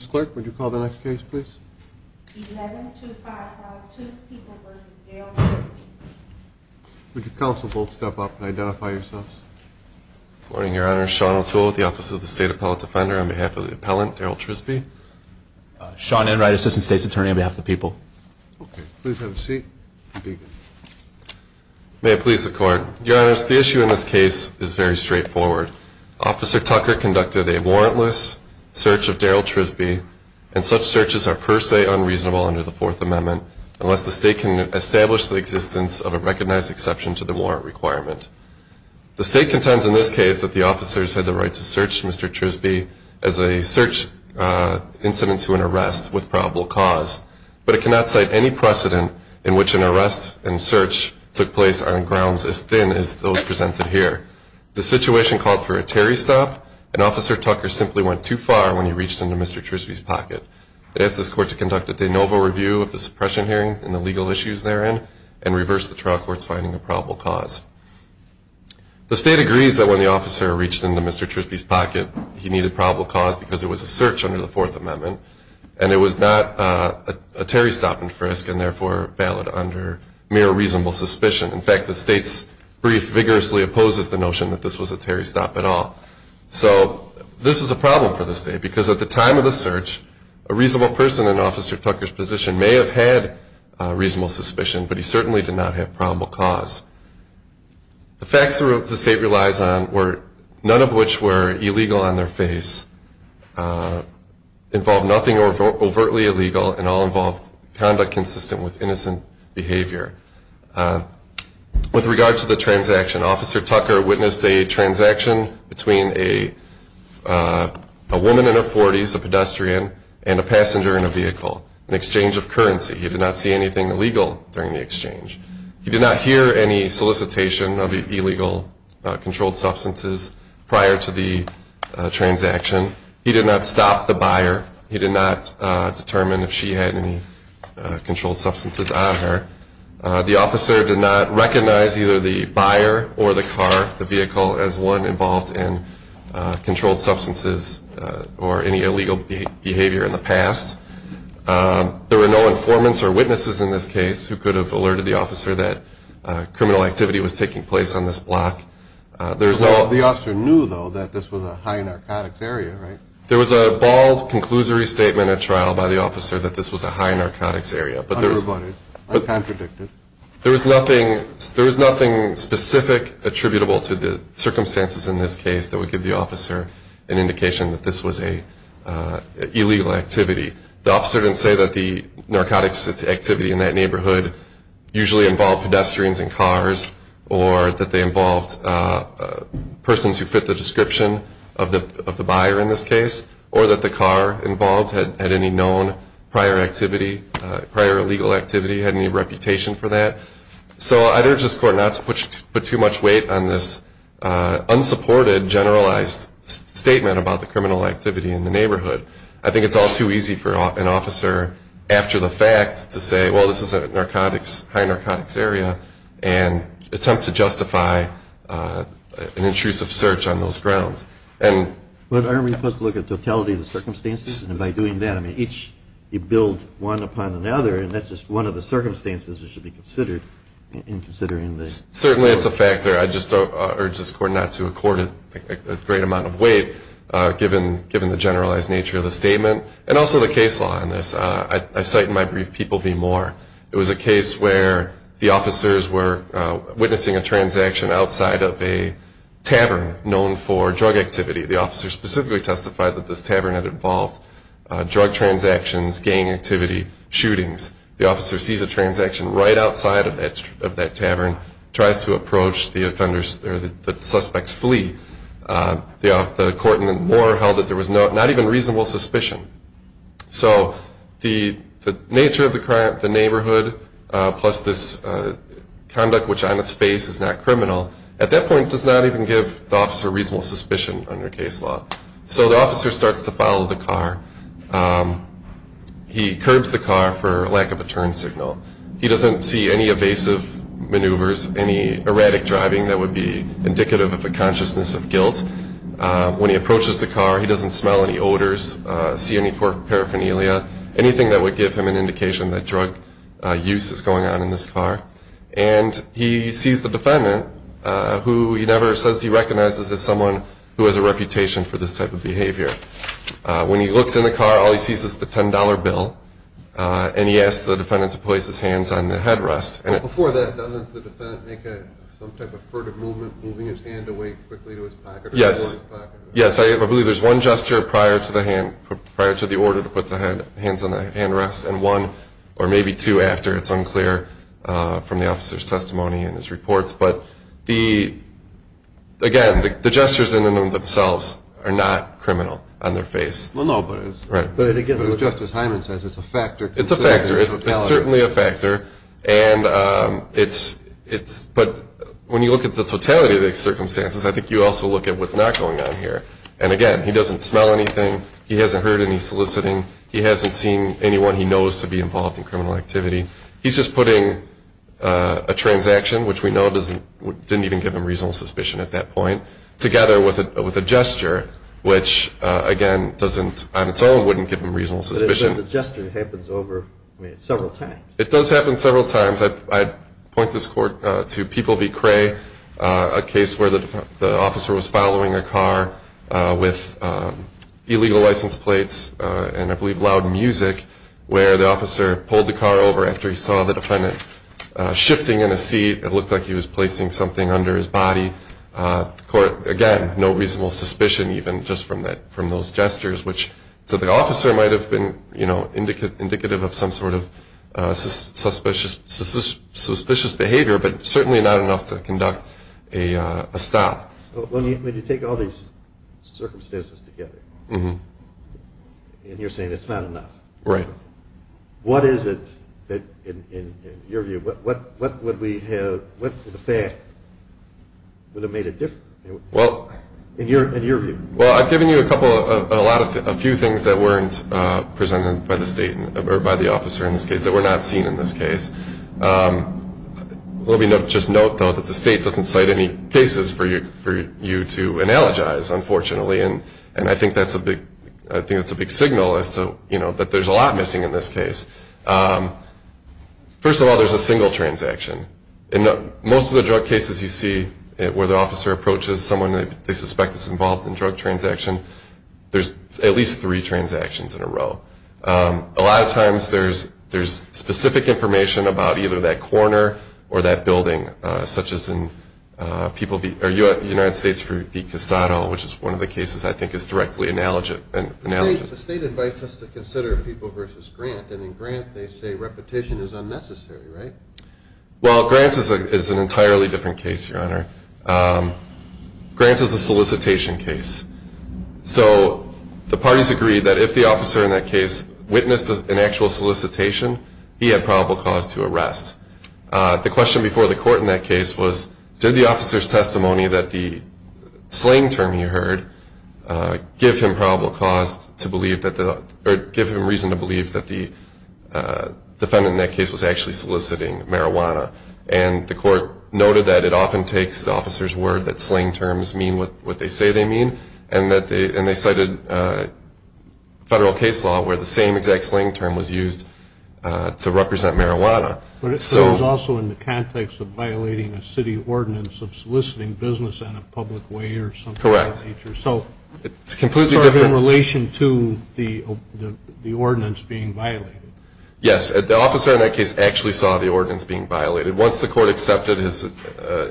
Mr. Clerk, would you call the next case, please? 11252 People v. Daryl Trisby Would you counsel both step up and identify yourselves? Good morning, Your Honor. Sean O'Toole with the Office of the State Appellate Defender on behalf of the appellant, Daryl Trisby. Sean Enright, Assistant State's Attorney on behalf of the people. Okay. Please have a seat. May it please the Court. Your Honor, the issue in this case is very straightforward. Officer Tucker conducted a warrantless search of Daryl Trisby, and such searches are per se unreasonable under the Fourth Amendment unless the State can establish the existence of a recognized exception to the warrant requirement. The State contends in this case that the officers had the right to search Mr. Trisby as a search incident to an arrest with probable cause, but it cannot cite any precedent in which an arrest and search took place on grounds as thin as those presented here. The situation called for a Terry stop, and Officer Tucker simply went too far when he reached into Mr. Trisby's pocket. I ask this Court to conduct a de novo review of the suppression hearing and the legal issues therein and reverse the trial court's finding of probable cause. The State agrees that when the officer reached into Mr. Trisby's pocket, he needed probable cause because it was a search under the Fourth Amendment, and it was not a Terry stop and frisk, and therefore valid under mere reasonable suspicion. In fact, the State's brief vigorously opposes the notion that this was a Terry stop at all. So this is a problem for the State because at the time of the search, a reasonable person in Officer Tucker's position may have had reasonable suspicion, but he certainly did not have probable cause. The facts the State relies on, none of which were illegal on their face, involved nothing overtly illegal, and all involved conduct consistent with innocent behavior. With regard to the transaction, Officer Tucker witnessed a transaction between a woman in her 40s, a pedestrian, and a passenger in a vehicle, an exchange of currency. He did not see anything illegal during the exchange. He did not hear any solicitation of illegal controlled substances prior to the transaction, he did not stop the buyer, he did not determine if she had any controlled substances on her. The officer did not recognize either the buyer or the car, the vehicle, as one involved in controlled substances or any illegal behavior in the past. There were no informants or witnesses in this case who could have alerted the officer that criminal activity was taking place on this block. The officer knew, though, that this was a high narcotics area, right? There was a bald, conclusory statement at trial by the officer that this was a high narcotics area. Unrebutted. Uncontradicted. There was nothing specific attributable to the circumstances in this case that would give the officer an indication that this was an illegal activity. The officer didn't say that the narcotics activity in that neighborhood usually involved pedestrians and cars, or that they involved persons who fit the description of the buyer in this case, or that the car involved had any known prior activity, prior illegal activity, had any reputation for that. So I urge this court not to put too much weight on this unsupported, generalized statement about the criminal activity in the neighborhood. I think it's all too easy for an officer, after the fact, to say, well, this is a narcotics, high narcotics area, and attempt to justify an intrusive search on those grounds. But aren't we supposed to look at the totality of the circumstances? And by doing that, I mean, each, you build one upon another, and that's just one of the circumstances that should be considered in considering this. Certainly it's a factor. I just urge this court not to accord it a great amount of weight, given the generalized nature of the statement, and also the case law on this. I cite in my brief, People v. Moore. It was a case where the officers were witnessing a transaction outside of a tavern known for drug activity. The officer specifically testified that this tavern had involved drug transactions, gang activity, shootings. The officer sees a transaction right outside of that tavern, tries to approach the suspects, flee. The court in Moore held that there was not even reasonable suspicion. So the nature of the crime, the neighborhood, plus this conduct which on its face is not criminal, at that point does not even give the officer reasonable suspicion under case law. So the officer starts to follow the car. He curbs the car for lack of a turn signal. He doesn't see any evasive maneuvers, any erratic driving that would be indicative of a consciousness of guilt. When he approaches the car, he doesn't smell any odors, see any paraphernalia, anything that would give him an indication that drug use is going on in this car. And he sees the defendant, who he never says he recognizes as someone who has a reputation for this type of behavior. When he looks in the car, all he sees is the $10 bill, and he asks the defendant to place his hands on the headrest. Before that, doesn't the defendant make some type of furtive movement, moving his hand away quickly to his pocket? Yes. Yes, I believe there's one gesture prior to the order to put the hands on the handrest, and one or maybe two after. It's unclear from the officer's testimony and his reports. But, again, the gestures in and of themselves are not criminal on their face. Well, no, but as Justice Hyman says, it's a factor. It's a factor. It's certainly a factor. But when you look at the totality of the circumstances, I think you also look at what's not going on here. And, again, he doesn't smell anything. He hasn't heard any soliciting. He hasn't seen anyone he knows to be involved in criminal activity. He's just putting a transaction, which we know didn't even give him reasonable suspicion at that point, together with a gesture, which, again, on its own wouldn't give him reasonable suspicion. But the gesture happens over several times. It does happen several times. I'd point this court to People v. Cray, a case where the officer was following a car with illegal license plates and, I believe, loud music, where the officer pulled the car over after he saw the defendant shifting in a seat. It looked like he was placing something under his body. The court, again, no reasonable suspicion even just from those gestures, which to the officer might have been indicative of some sort of suspicious behavior, but certainly not enough to conduct a stop. When you take all these circumstances together, and you're saying it's not enough. Right. What is it that, in your view, what would the fact would have made a difference in your view? Well, I've given you a few things that weren't presented by the state, or by the officer in this case, that were not seen in this case. Let me just note, though, that the state doesn't cite any cases for you to analogize, unfortunately, and I think that's a big signal that there's a lot missing in this case. First of all, there's a single transaction. In most of the drug cases you see where the officer approaches someone they suspect is involved in a drug transaction, there's at least three transactions in a row. A lot of times there's specific information about either that corner or that building, such as in the United States for DeCasado, which is one of the cases I think is directly analogous. The state invites us to consider people versus grant, and in grant they say repetition is unnecessary, right? Well, grant is an entirely different case, Your Honor. Grant is a solicitation case. So the parties agree that if the officer in that case witnessed an actual solicitation, he had probable cause to arrest. The question before the court in that case was did the officer's testimony that the slang term he heard give him probable cause or give him reason to believe that the defendant in that case was actually soliciting marijuana? And the court noted that it often takes the officer's word that slang terms mean what they say they mean, and they cited federal case law where the same exact slang term was used to represent marijuana. But it was also in the context of violating a city ordinance of soliciting business in a public way or something of that nature. Correct. So it's sort of in relation to the ordinance being violated. Yes, the officer in that case actually saw the ordinance being violated. Once the court accepted his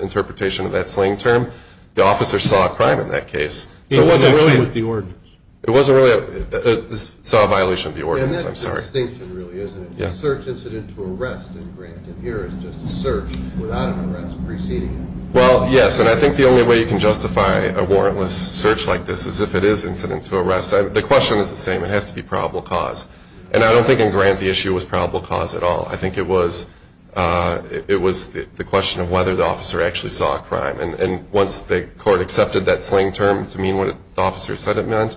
interpretation of that slang term, the officer saw a crime in that case. He wasn't really with the ordinance. He saw a violation of the ordinance, I'm sorry. And that's a distinction really, isn't it? Yes. A search incident to arrest in grant in here is just a search without an arrest preceding it. Well, yes, and I think the only way you can justify a warrantless search like this is if it is incident to arrest. The question is the same. It has to be probable cause. And I don't think in grant the issue was probable cause at all. I think it was the question of whether the officer actually saw a crime. And once the court accepted that slang term to mean what the officer said it meant,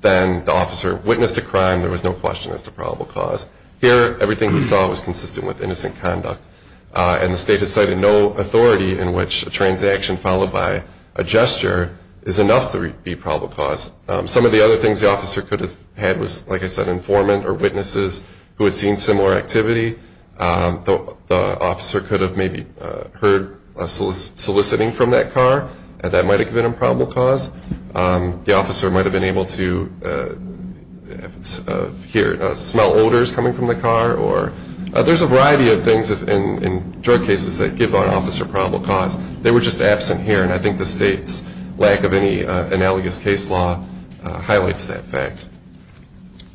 then the officer witnessed a crime. There was no question as to probable cause. Here, everything he saw was consistent with innocent conduct, and the state has cited no authority in which a transaction followed by a gesture is enough to be probable cause. Some of the other things the officer could have had was, like I said, informant or witnesses who had seen similar activity. The officer could have maybe heard soliciting from that car. That might have been a probable cause. The officer might have been able to hear, smell odors coming from the car. There's a variety of things in drug cases that give an officer probable cause. They were just absent here, and I think the state's lack of any analogous case law highlights that fact.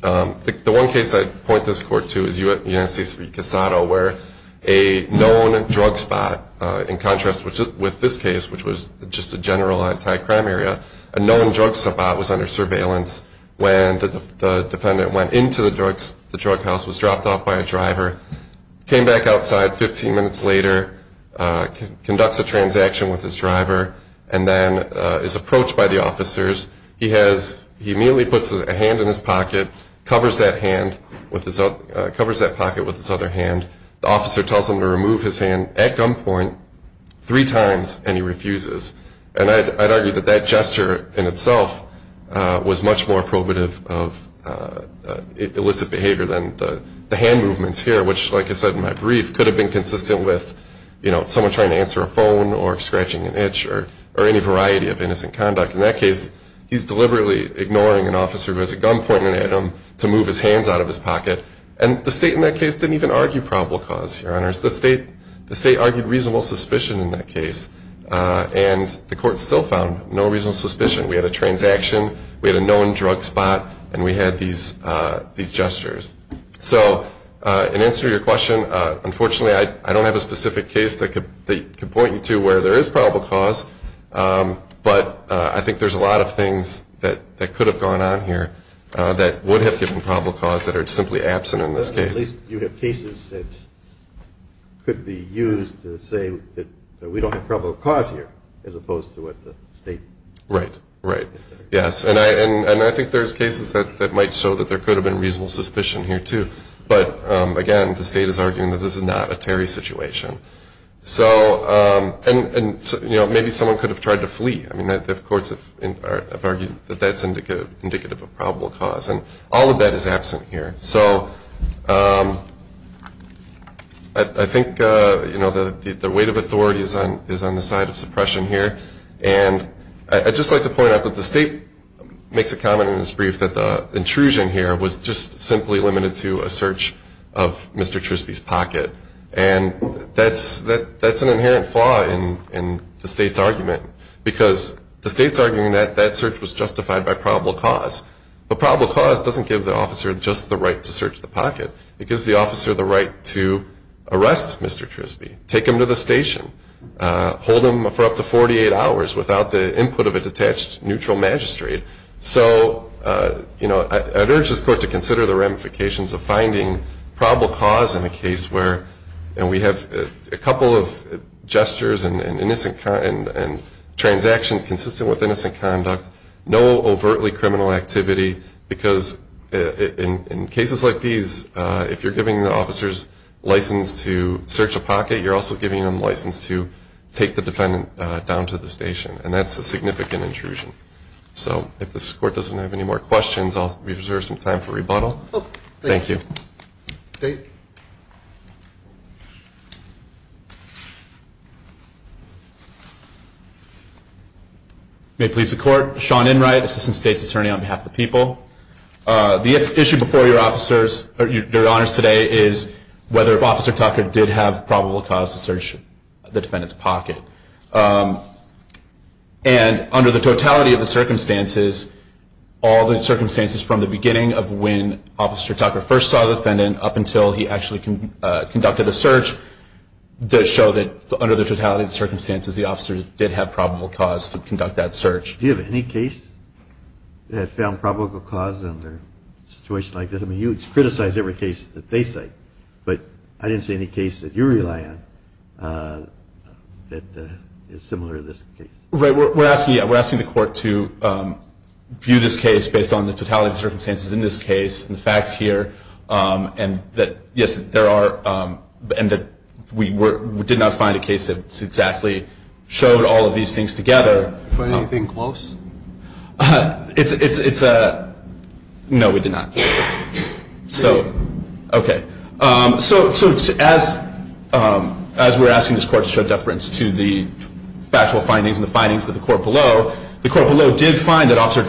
The one case I'd point this court to is United States v. Casado, where a known drug spot, in contrast with this case, which was just a generalized high-crime area, a known drug spot was under surveillance when the defendant went into the drug house, was dropped off by a driver, came back outside 15 minutes later, conducts a transaction with his driver, and then is approached by the officers. He immediately puts a hand in his pocket, covers that pocket with his other hand. The officer tells him to remove his hand at gunpoint three times, and he refuses. And I'd argue that that gesture in itself was much more probative of illicit behavior than the hand movements here, which, like I said in my brief, could have been consistent with someone trying to answer a phone or scratching an itch or any variety of innocent conduct. In that case, he's deliberately ignoring an officer who has a gun pointed at him to move his hands out of his pocket. And the state in that case didn't even argue probable cause, Your Honors. The state argued reasonable suspicion in that case, and the court still found no reasonable suspicion. We had a transaction, we had a known drug spot, and we had these gestures. So in answer to your question, unfortunately, I don't have a specific case that could point you to where there is probable cause, but I think there's a lot of things that could have gone on here that would have given probable cause that are simply absent in this case. At least you have cases that could be used to say that we don't have probable cause here as opposed to what the state. Right, right. Yes. And I think there's cases that might show that there could have been reasonable suspicion here, too. But, again, the state is arguing that this is not a Terry situation. And, you know, maybe someone could have tried to flee. I mean, the courts have argued that that's indicative of probable cause, and all of that is absent here. So I think, you know, the weight of authority is on the side of suppression here. And I'd just like to point out that the state makes a comment in its brief that the intrusion here was just simply limited to a search of Mr. Trispy's pocket. And that's an inherent flaw in the state's argument, because the state's arguing that that search was justified by probable cause. But probable cause doesn't give the officer just the right to search the pocket. It gives the officer the right to arrest Mr. Trispy, take him to the station, hold him for up to 48 hours without the input of a detached neutral magistrate. So, you know, I'd urge this court to consider the ramifications of finding probable cause in a case where we have a couple of gestures and transactions consistent with innocent conduct, no overtly criminal activity, because in cases like these, if you're giving the officers license to search a pocket, you're also giving them license to take the defendant down to the station. And that's a significant intrusion. So if this court doesn't have any more questions, I'll reserve some time for rebuttal. Thank you. State. May it please the court. Sean Enright, Assistant State's Attorney on behalf of the people. The issue before your officers, your honors today, is whether Officer Tucker did have probable cause to search the defendant's pocket. And under the totality of the circumstances, all the circumstances from the beginning of when Officer Tucker first saw the defendant up until he actually conducted the search, does show that under the totality of the circumstances, the officer did have probable cause to conduct that search. Do you have any case that found probable cause under a situation like this? I mean, you criticize every case that they cite, but I didn't see any case that you rely on that is similar to this case. Right. We're asking the court to view this case based on the totality of circumstances in this case, and the facts here, and that, yes, there are, and that we did not find a case that exactly showed all of these things together. Find anything close? It's a, no, we did not. So, okay. So, as we're asking this court to show deference to the factual findings and the findings of the court below, the court below did find that Officer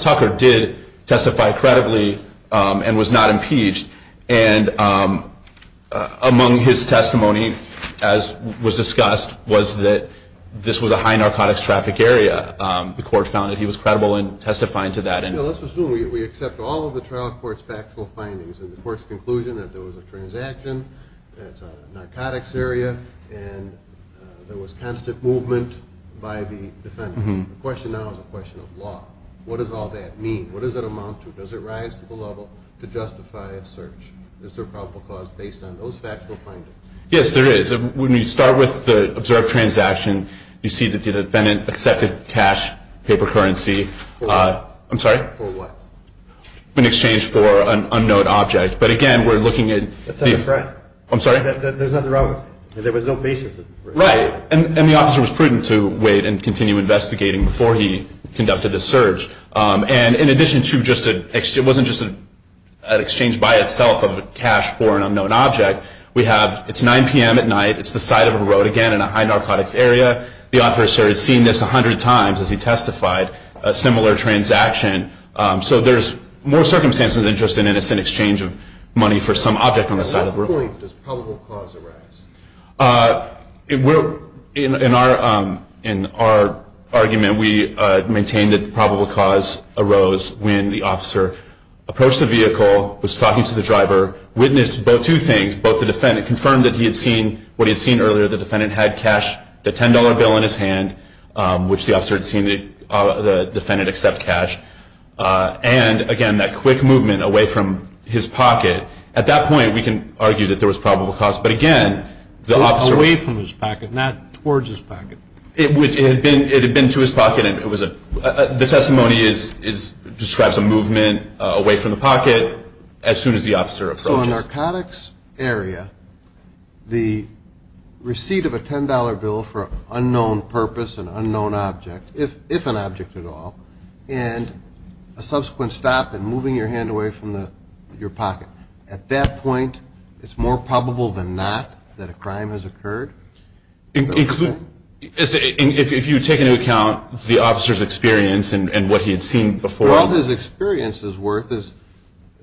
Tucker did testify credibly and was not impeached. And among his testimony, as was discussed, was that this was a high narcotics traffic area. The court found that he was credible in testifying to that. Let's assume we accept all of the trial court's factual findings, and the court's conclusion that there was a transaction, it's a narcotics area, and there was constant movement by the defendant. The question now is a question of law. What does all that mean? What does it amount to? Does it rise to the level to justify a search? Is there probable cause based on those factual findings? Yes, there is. When you start with the observed transaction, you see that the defendant accepted cash, paper currency. For what? I'm sorry? For what? In exchange for an unknown object. But, again, we're looking at the- That's not correct. I'm sorry? There's nothing wrong with it. There was no basis. Right. And the officer was prudent to wait and continue investigating before he conducted the search. And in addition to just a-it wasn't just an exchange by itself of cash for an unknown object. We have-it's 9 p.m. at night. It's the side of a road, again, in a high narcotics area. The officer had seen this 100 times as he testified, a similar transaction. So there's more circumstances than just an innocent exchange of money for some object on the side of the road. At what point does probable cause arise? In our argument, we maintain that probable cause arose when the officer approached the vehicle, was talking to the driver, witnessed two things. Both the defendant confirmed that he had seen what he had seen earlier. The defendant had cash, the $10 bill in his hand, which the officer had seen the defendant accept cash, and, again, that quick movement away from his pocket. At that point, we can argue that there was probable cause. But, again, the officer- Away from his pocket, not towards his pocket. It had been to his pocket. The testimony describes a movement away from the pocket as soon as the officer approached it. So in a narcotics area, the receipt of a $10 bill for an unknown purpose, an unknown object, if an object at all, and a subsequent stop in moving your hand away from your pocket. At that point, it's more probable than not that a crime has occurred. If you take into account the officer's experience and what he had seen before- All his experience is worth is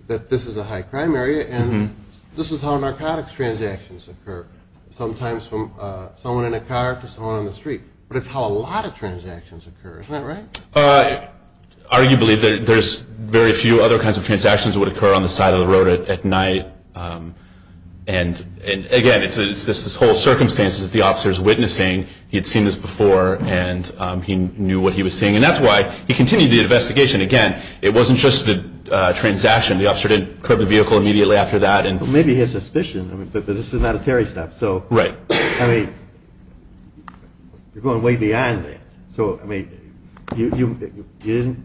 that this is a high-crime area, and this is how narcotics transactions occur, sometimes from someone in a car to someone on the street. But it's how a lot of transactions occur. Isn't that right? Arguably, there's very few other kinds of transactions that would occur on the side of the road at night. And, again, it's this whole circumstance that the officer is witnessing. And that's why he continued the investigation. Again, it wasn't just the transaction. The officer didn't curb the vehicle immediately after that. Well, maybe he had suspicion, but this is not a Terry stop. Right. I mean, you're going way beyond that. So, I mean, the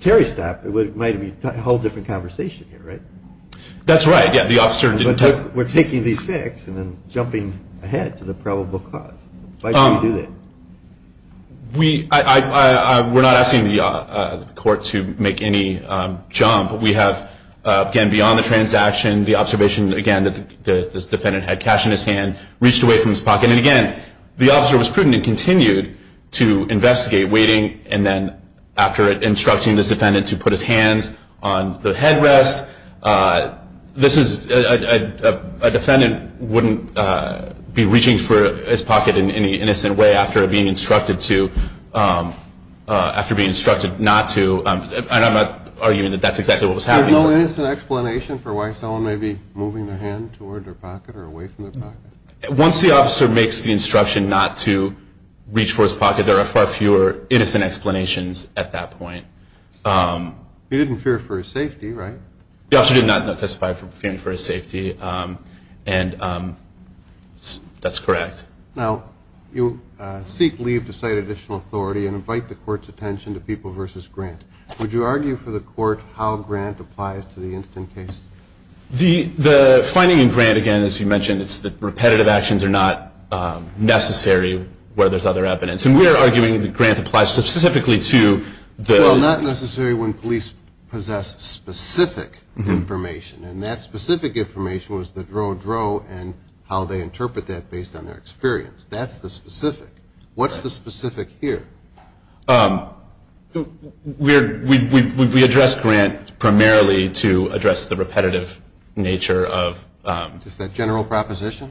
Terry stop might be a whole different conversation here, right? That's right. Yeah, the officer didn't- We're taking these facts and then jumping ahead to the probable cause. Why do you do that? We're not asking the court to make any jump. We have, again, beyond the transaction, the observation, again, that this defendant had cash in his hand, reached away from his pocket. And, again, the officer was prudent and continued to investigate, waiting, and then after instructing this defendant to put his hands on the headrest. This is-a defendant wouldn't be reaching for his pocket in any innocent way after being instructed not to. And I'm not arguing that that's exactly what was happening. There's no innocent explanation for why someone may be moving their hand toward their pocket or away from their pocket? Once the officer makes the instruction not to reach for his pocket, there are far fewer innocent explanations at that point. He didn't fear for his safety, right? The officer did not testify fearing for his safety, and that's correct. Now, you seek leave to cite additional authority and invite the court's attention to People v. Grant. Would you argue for the court how Grant applies to the instant case? The finding in Grant, again, as you mentioned, is that repetitive actions are not necessary where there's other evidence. And we're arguing that Grant applies specifically to the- Well, not necessarily when police possess specific information, and that specific information was the drow drow and how they interpret that based on their experience. That's the specific. What's the specific here? We address Grant primarily to address the repetitive nature of- Is that general proposition?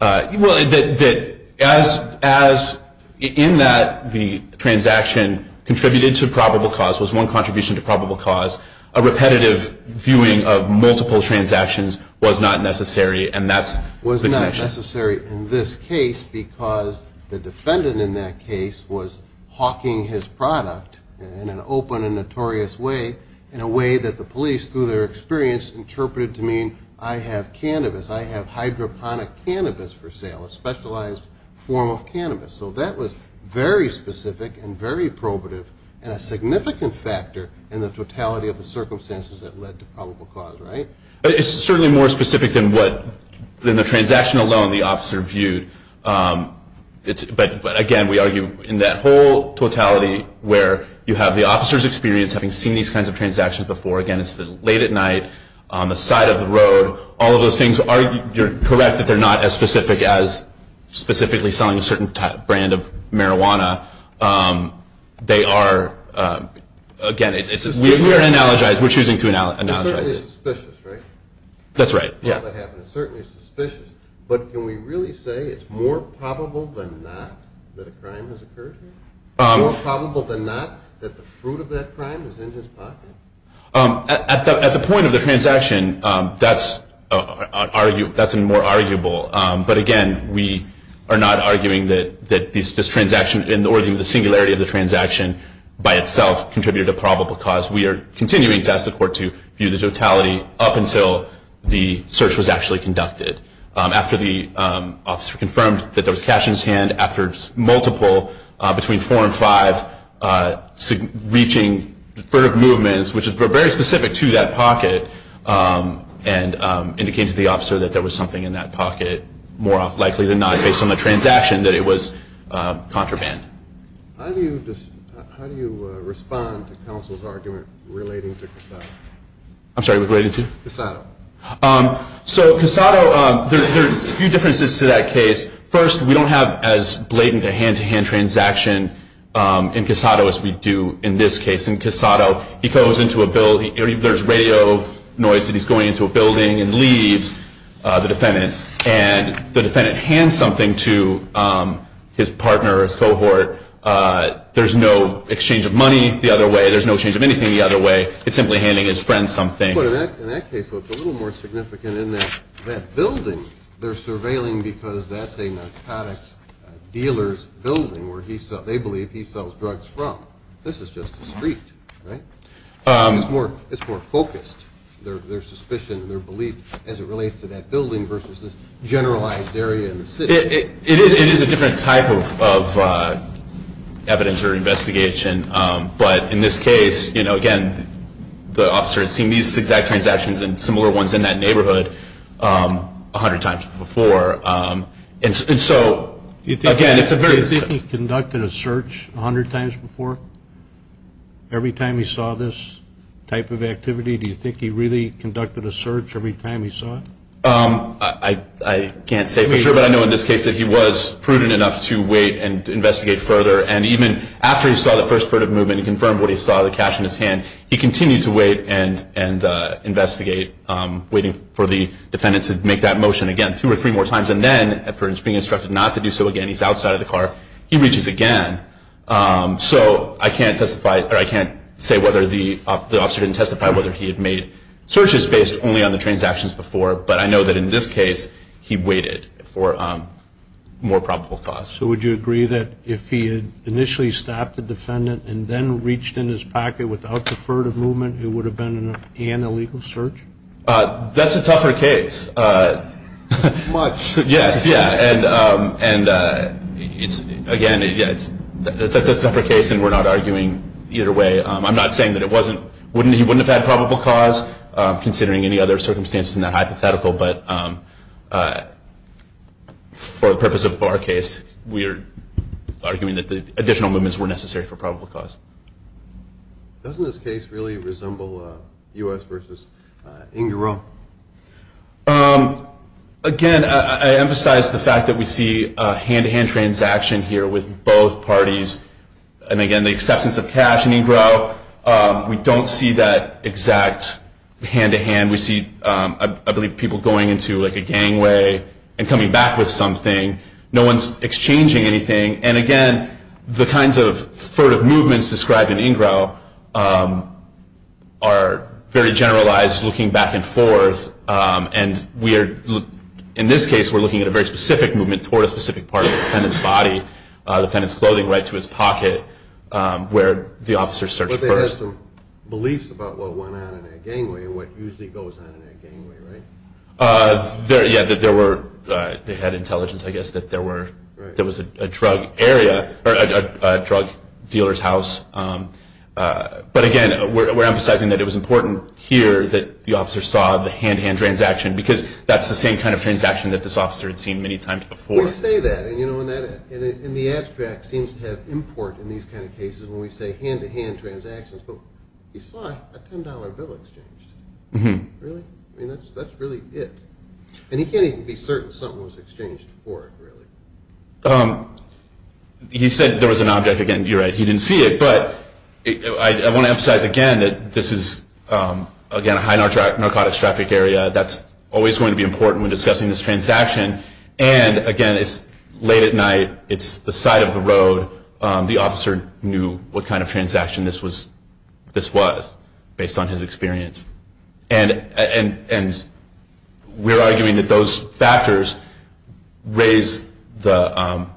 Well, that as in that the transaction contributed to probable cause, was one contribution to probable cause, a repetitive viewing of multiple transactions was not necessary, and that's the connection. Was not necessary in this case because the defendant in that case was hawking his product in an open and notorious way, in a way that the police, through their experience, interpreted to mean I have cannabis, I have hydroponic cannabis for sale, a specialized form of cannabis. So that was very specific and very probative and a significant factor in the totality of the circumstances that led to probable cause, right? It's certainly more specific than the transaction alone the officer viewed. But, again, we argue in that whole totality where you have the officer's experience having seen these kinds of transactions before. Again, it's late at night, on the side of the road, all of those things. You're correct that they're not as specific as specifically selling a certain brand of marijuana. They are, again, we're choosing to analogize it. It's certainly suspicious, right? That's right, yeah. It's certainly suspicious. But can we really say it's more probable than not that a crime has occurred here? More probable than not that the fruit of that crime was in his pocket? At the point of the transaction, that's more arguable. But, again, we are not arguing that this transaction, or even the singularity of the transaction by itself, contributed to probable cause. We are continuing to ask the court to view the totality up until the search was actually conducted. After the officer confirmed that there was cash in his hand, after multiple, between four and five, reaching movements, which were very specific to that pocket, and indicated to the officer that there was something in that pocket, more likely than not, based on the transaction, that it was contraband. How do you respond to counsel's argument relating to Casado? I'm sorry, relating to? Casado. So, Casado, there are a few differences to that case. First, we don't have as blatant a hand-to-hand transaction in Casado as we do in this case. In Casado, he goes into a building, there's radio noise, and he's going into a building and leaves the defendant. And the defendant hands something to his partner or his cohort. There's no exchange of money the other way. There's no exchange of anything the other way. It's simply handing his friend something. In that case, though, it's a little more significant in that building. They're surveilling because that's a narcotics dealer's building where they believe he sells drugs from. This is just a street, right? It's more focused, their suspicion, their belief, as it relates to that building versus this generalized area in the city. It is a different type of evidence or investigation. But in this case, you know, again, the officer had seen these exact transactions and similar ones in that neighborhood 100 times before. And so, again, it's a very- Do you think he conducted a search 100 times before? Every time he saw this type of activity? Do you think he really conducted a search every time he saw it? I can't say for sure, but I know in this case that he was prudent enough to wait and investigate further. And even after he saw the first furtive movement and confirmed what he saw, the cash in his hand, he continued to wait and investigate, waiting for the defendant to make that motion again two or three more times. And then, after being instructed not to do so again, he's outside of the car, he reaches again. So I can't testify, or I can't say whether the officer didn't testify, whether he had made searches based only on the transactions before. But I know that in this case, he waited for more probable cause. So would you agree that if he had initially stopped the defendant and then reached in his pocket without the furtive movement, it would have been an illegal search? That's a tougher case. Much. Yes, yeah. And, again, it's a tougher case, and we're not arguing either way. I'm not saying that he wouldn't have had probable cause, considering any other circumstances in that hypothetical. But for the purpose of our case, we are arguing that additional movements were necessary for probable cause. Doesn't this case really resemble U.S. v. Ingrot? Again, I emphasize the fact that we see a hand-to-hand transaction here with both parties. And, again, the acceptance of cash in Ingrot, we don't see that exact hand-to-hand. And we see, I believe, people going into a gangway and coming back with something. No one's exchanging anything. And, again, the kinds of furtive movements described in Ingrot are very generalized, looking back and forth. And in this case, we're looking at a very specific movement toward a specific part of the defendant's body, the defendant's clothing right to his pocket, where the officer searched first. The officer has some beliefs about what went on in that gangway and what usually goes on in that gangway, right? Yeah, that they had intelligence, I guess, that there was a drug dealer's house. But, again, we're emphasizing that it was important here that the officer saw the hand-to-hand transaction because that's the same kind of transaction that this officer had seen many times before. We say that. And the abstract seems to have import in these kind of cases when we say hand-to-hand transactions. But he saw a $10 bill exchanged. Really? I mean, that's really it. And he can't even be certain something was exchanged for it, really. He said there was an object. Again, you're right. He didn't see it. But I want to emphasize, again, that this is, again, a high narcotics traffic area. That's always going to be important when discussing this transaction. And, again, it's late at night. It's the side of the road. The officer knew what kind of transaction this was based on his experience. And we're arguing that those factors raise the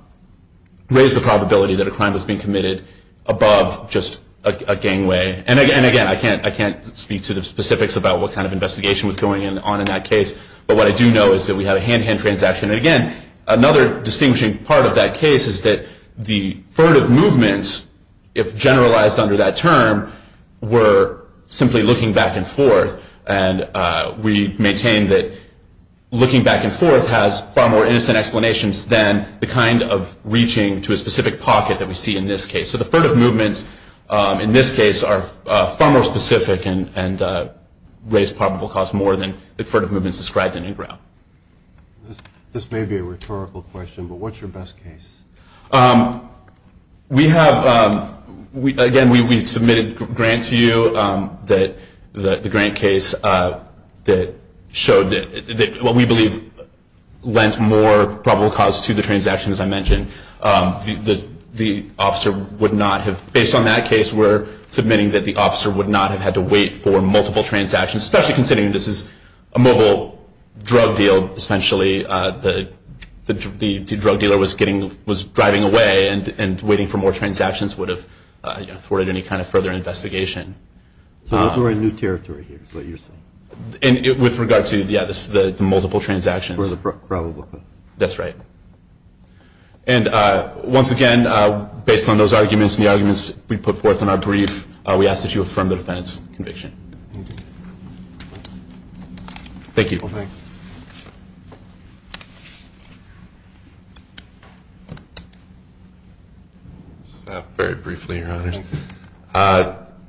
probability that a crime was being committed above just a gangway. And, again, I can't speak to the specifics about what kind of investigation was going on in that case. But what I do know is that we have a hand-to-hand transaction. And, again, another distinguishing part of that case is that the furtive movements, if generalized under that term, were simply looking back and forth. And we maintain that looking back and forth has far more innocent explanations than the kind of reaching to a specific pocket that we see in this case. So the furtive movements in this case are far more specific and raise probable cause more than the furtive movements described in NGRAW. This may be a rhetorical question, but what's your best case? We have, again, we submitted a grant to you, the grant case, that showed what we believe lent more probable cause to the transaction, as I mentioned. The officer would not have, based on that case, we're submitting that the officer would not have had to wait for multiple transactions, especially considering this is a mobile drug deal. Essentially, the drug dealer was driving away and waiting for more transactions would have thwarted any kind of further investigation. So we're in new territory here, is what you're saying? With regard to, yeah, the multiple transactions. That's right. And once again, based on those arguments and the arguments we put forth in our brief, we ask that you affirm the defendant's conviction. Thank you. Very briefly, Your Honors.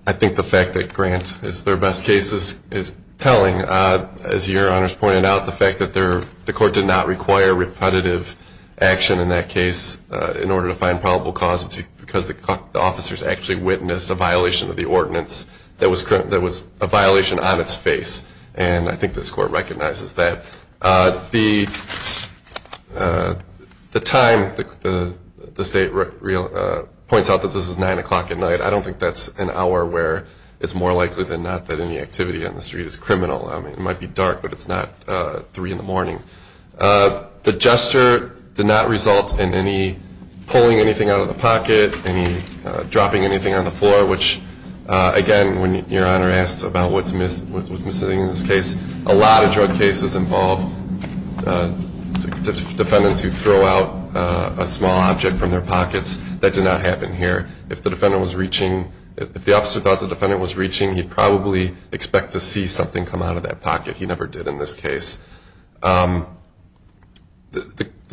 I think the fact that grant is their best case is telling, as Your Honors pointed out, the fact that the court did not require repetitive action in that case in order to find probable cause, because the officers actually witnessed a violation of the ordinance that was a violation on its face. And I think this court recognizes that. The time, the state points out that this is 9 o'clock at night. I don't think that's an hour where it's more likely than not that any activity on the street is criminal. I mean, it might be dark, but it's not 3 in the morning. The gesture did not result in any pulling anything out of the pocket, any dropping anything on the floor, which, again, when Your Honor asked about what's missing in this case, a lot of drug cases involve defendants who throw out a small object from their pockets. That did not happen here. If the defendant was reaching, if the officer thought the defendant was reaching, he'd probably expect to see something come out of that pocket. He never did in this case. The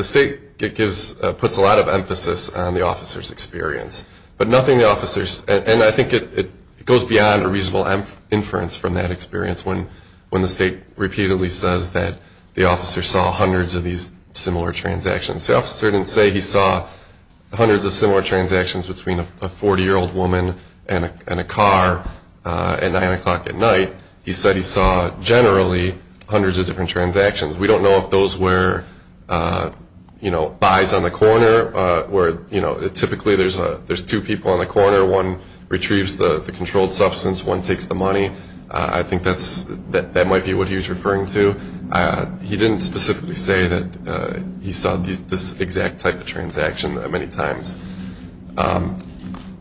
state puts a lot of emphasis on the officer's experience. But nothing the officer's, and I think it goes beyond a reasonable inference from that experience when the state repeatedly says that the officer saw hundreds of these similar transactions. The officer didn't say he saw hundreds of similar transactions between a 40-year-old woman and a car at 9 o'clock at night. He said he saw generally hundreds of different transactions. We don't know if those were buys on the corner, where typically there's two people on the corner, one retrieves the controlled substance, one takes the money. I think that might be what he was referring to. He didn't specifically say that he saw this exact type of transaction many times.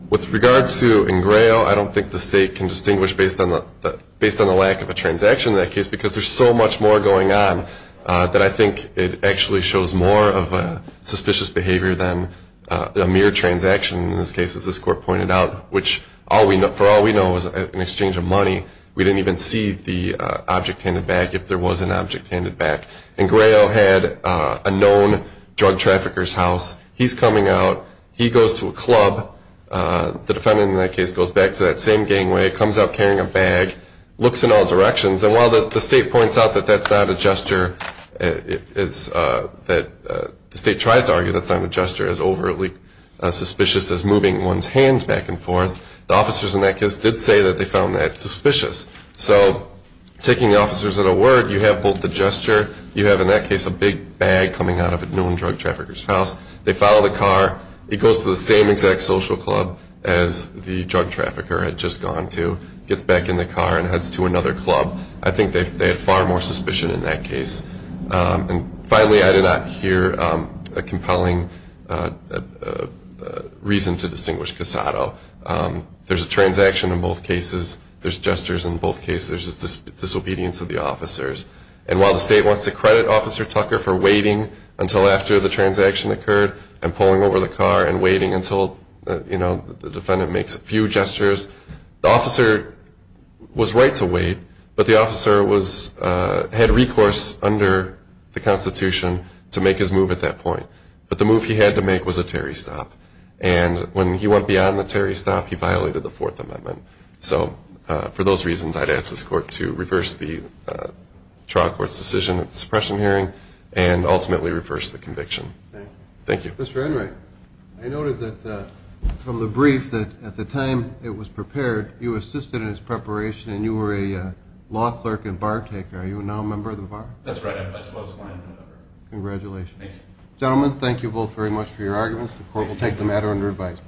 With regard to Ingrayo, I don't think the state can distinguish based on the lack of a transaction in that case because there's so much more going on that I think it actually shows more of a suspicious behavior than a mere transaction in this case, as this court pointed out, which for all we know is an exchange of money. We didn't even see the object-handed bag if there was an object-handed bag. Ingrayo had a known drug trafficker's house. He's coming out. He goes to a club. The defendant in that case goes back to that same gangway, comes up carrying a bag, looks in all directions, and while the state points out that that's not a gesture, that the state tries to argue that's not a gesture, as overly suspicious as moving one's hands back and forth, the officers in that case did say that they found that suspicious. So taking the officers at a word, you have both the gesture. You have in that case a big bag coming out of a known drug trafficker's house. They follow the car. He goes to the same exact social club as the drug trafficker had just gone to, gets back in the car and heads to another club. I think they had far more suspicion in that case. Finally, I did not hear a compelling reason to distinguish Casado. There's a transaction in both cases. There's gestures in both cases. There's disobedience of the officers. And while the state wants to credit Officer Tucker for waiting until after the transaction occurred and pulling over the car and waiting until the defendant makes a few gestures, the officer was right to wait, but the officer had recourse under the Constitution to make his move at that point. But the move he had to make was a Terry stop. And when he went beyond the Terry stop, he violated the Fourth Amendment. So for those reasons, I'd ask this Court to reverse the trial court's decision at the suppression hearing and ultimately reverse the conviction. Thank you. Mr. Enright, I noted that from the brief that at the time it was prepared, you assisted in its preparation, and you were a law clerk and bar taker. Are you now a member of the bar? That's right. I was one of the members. Congratulations. Thank you. Gentlemen, thank you both very much for your arguments. The Court will take the matter under advisement.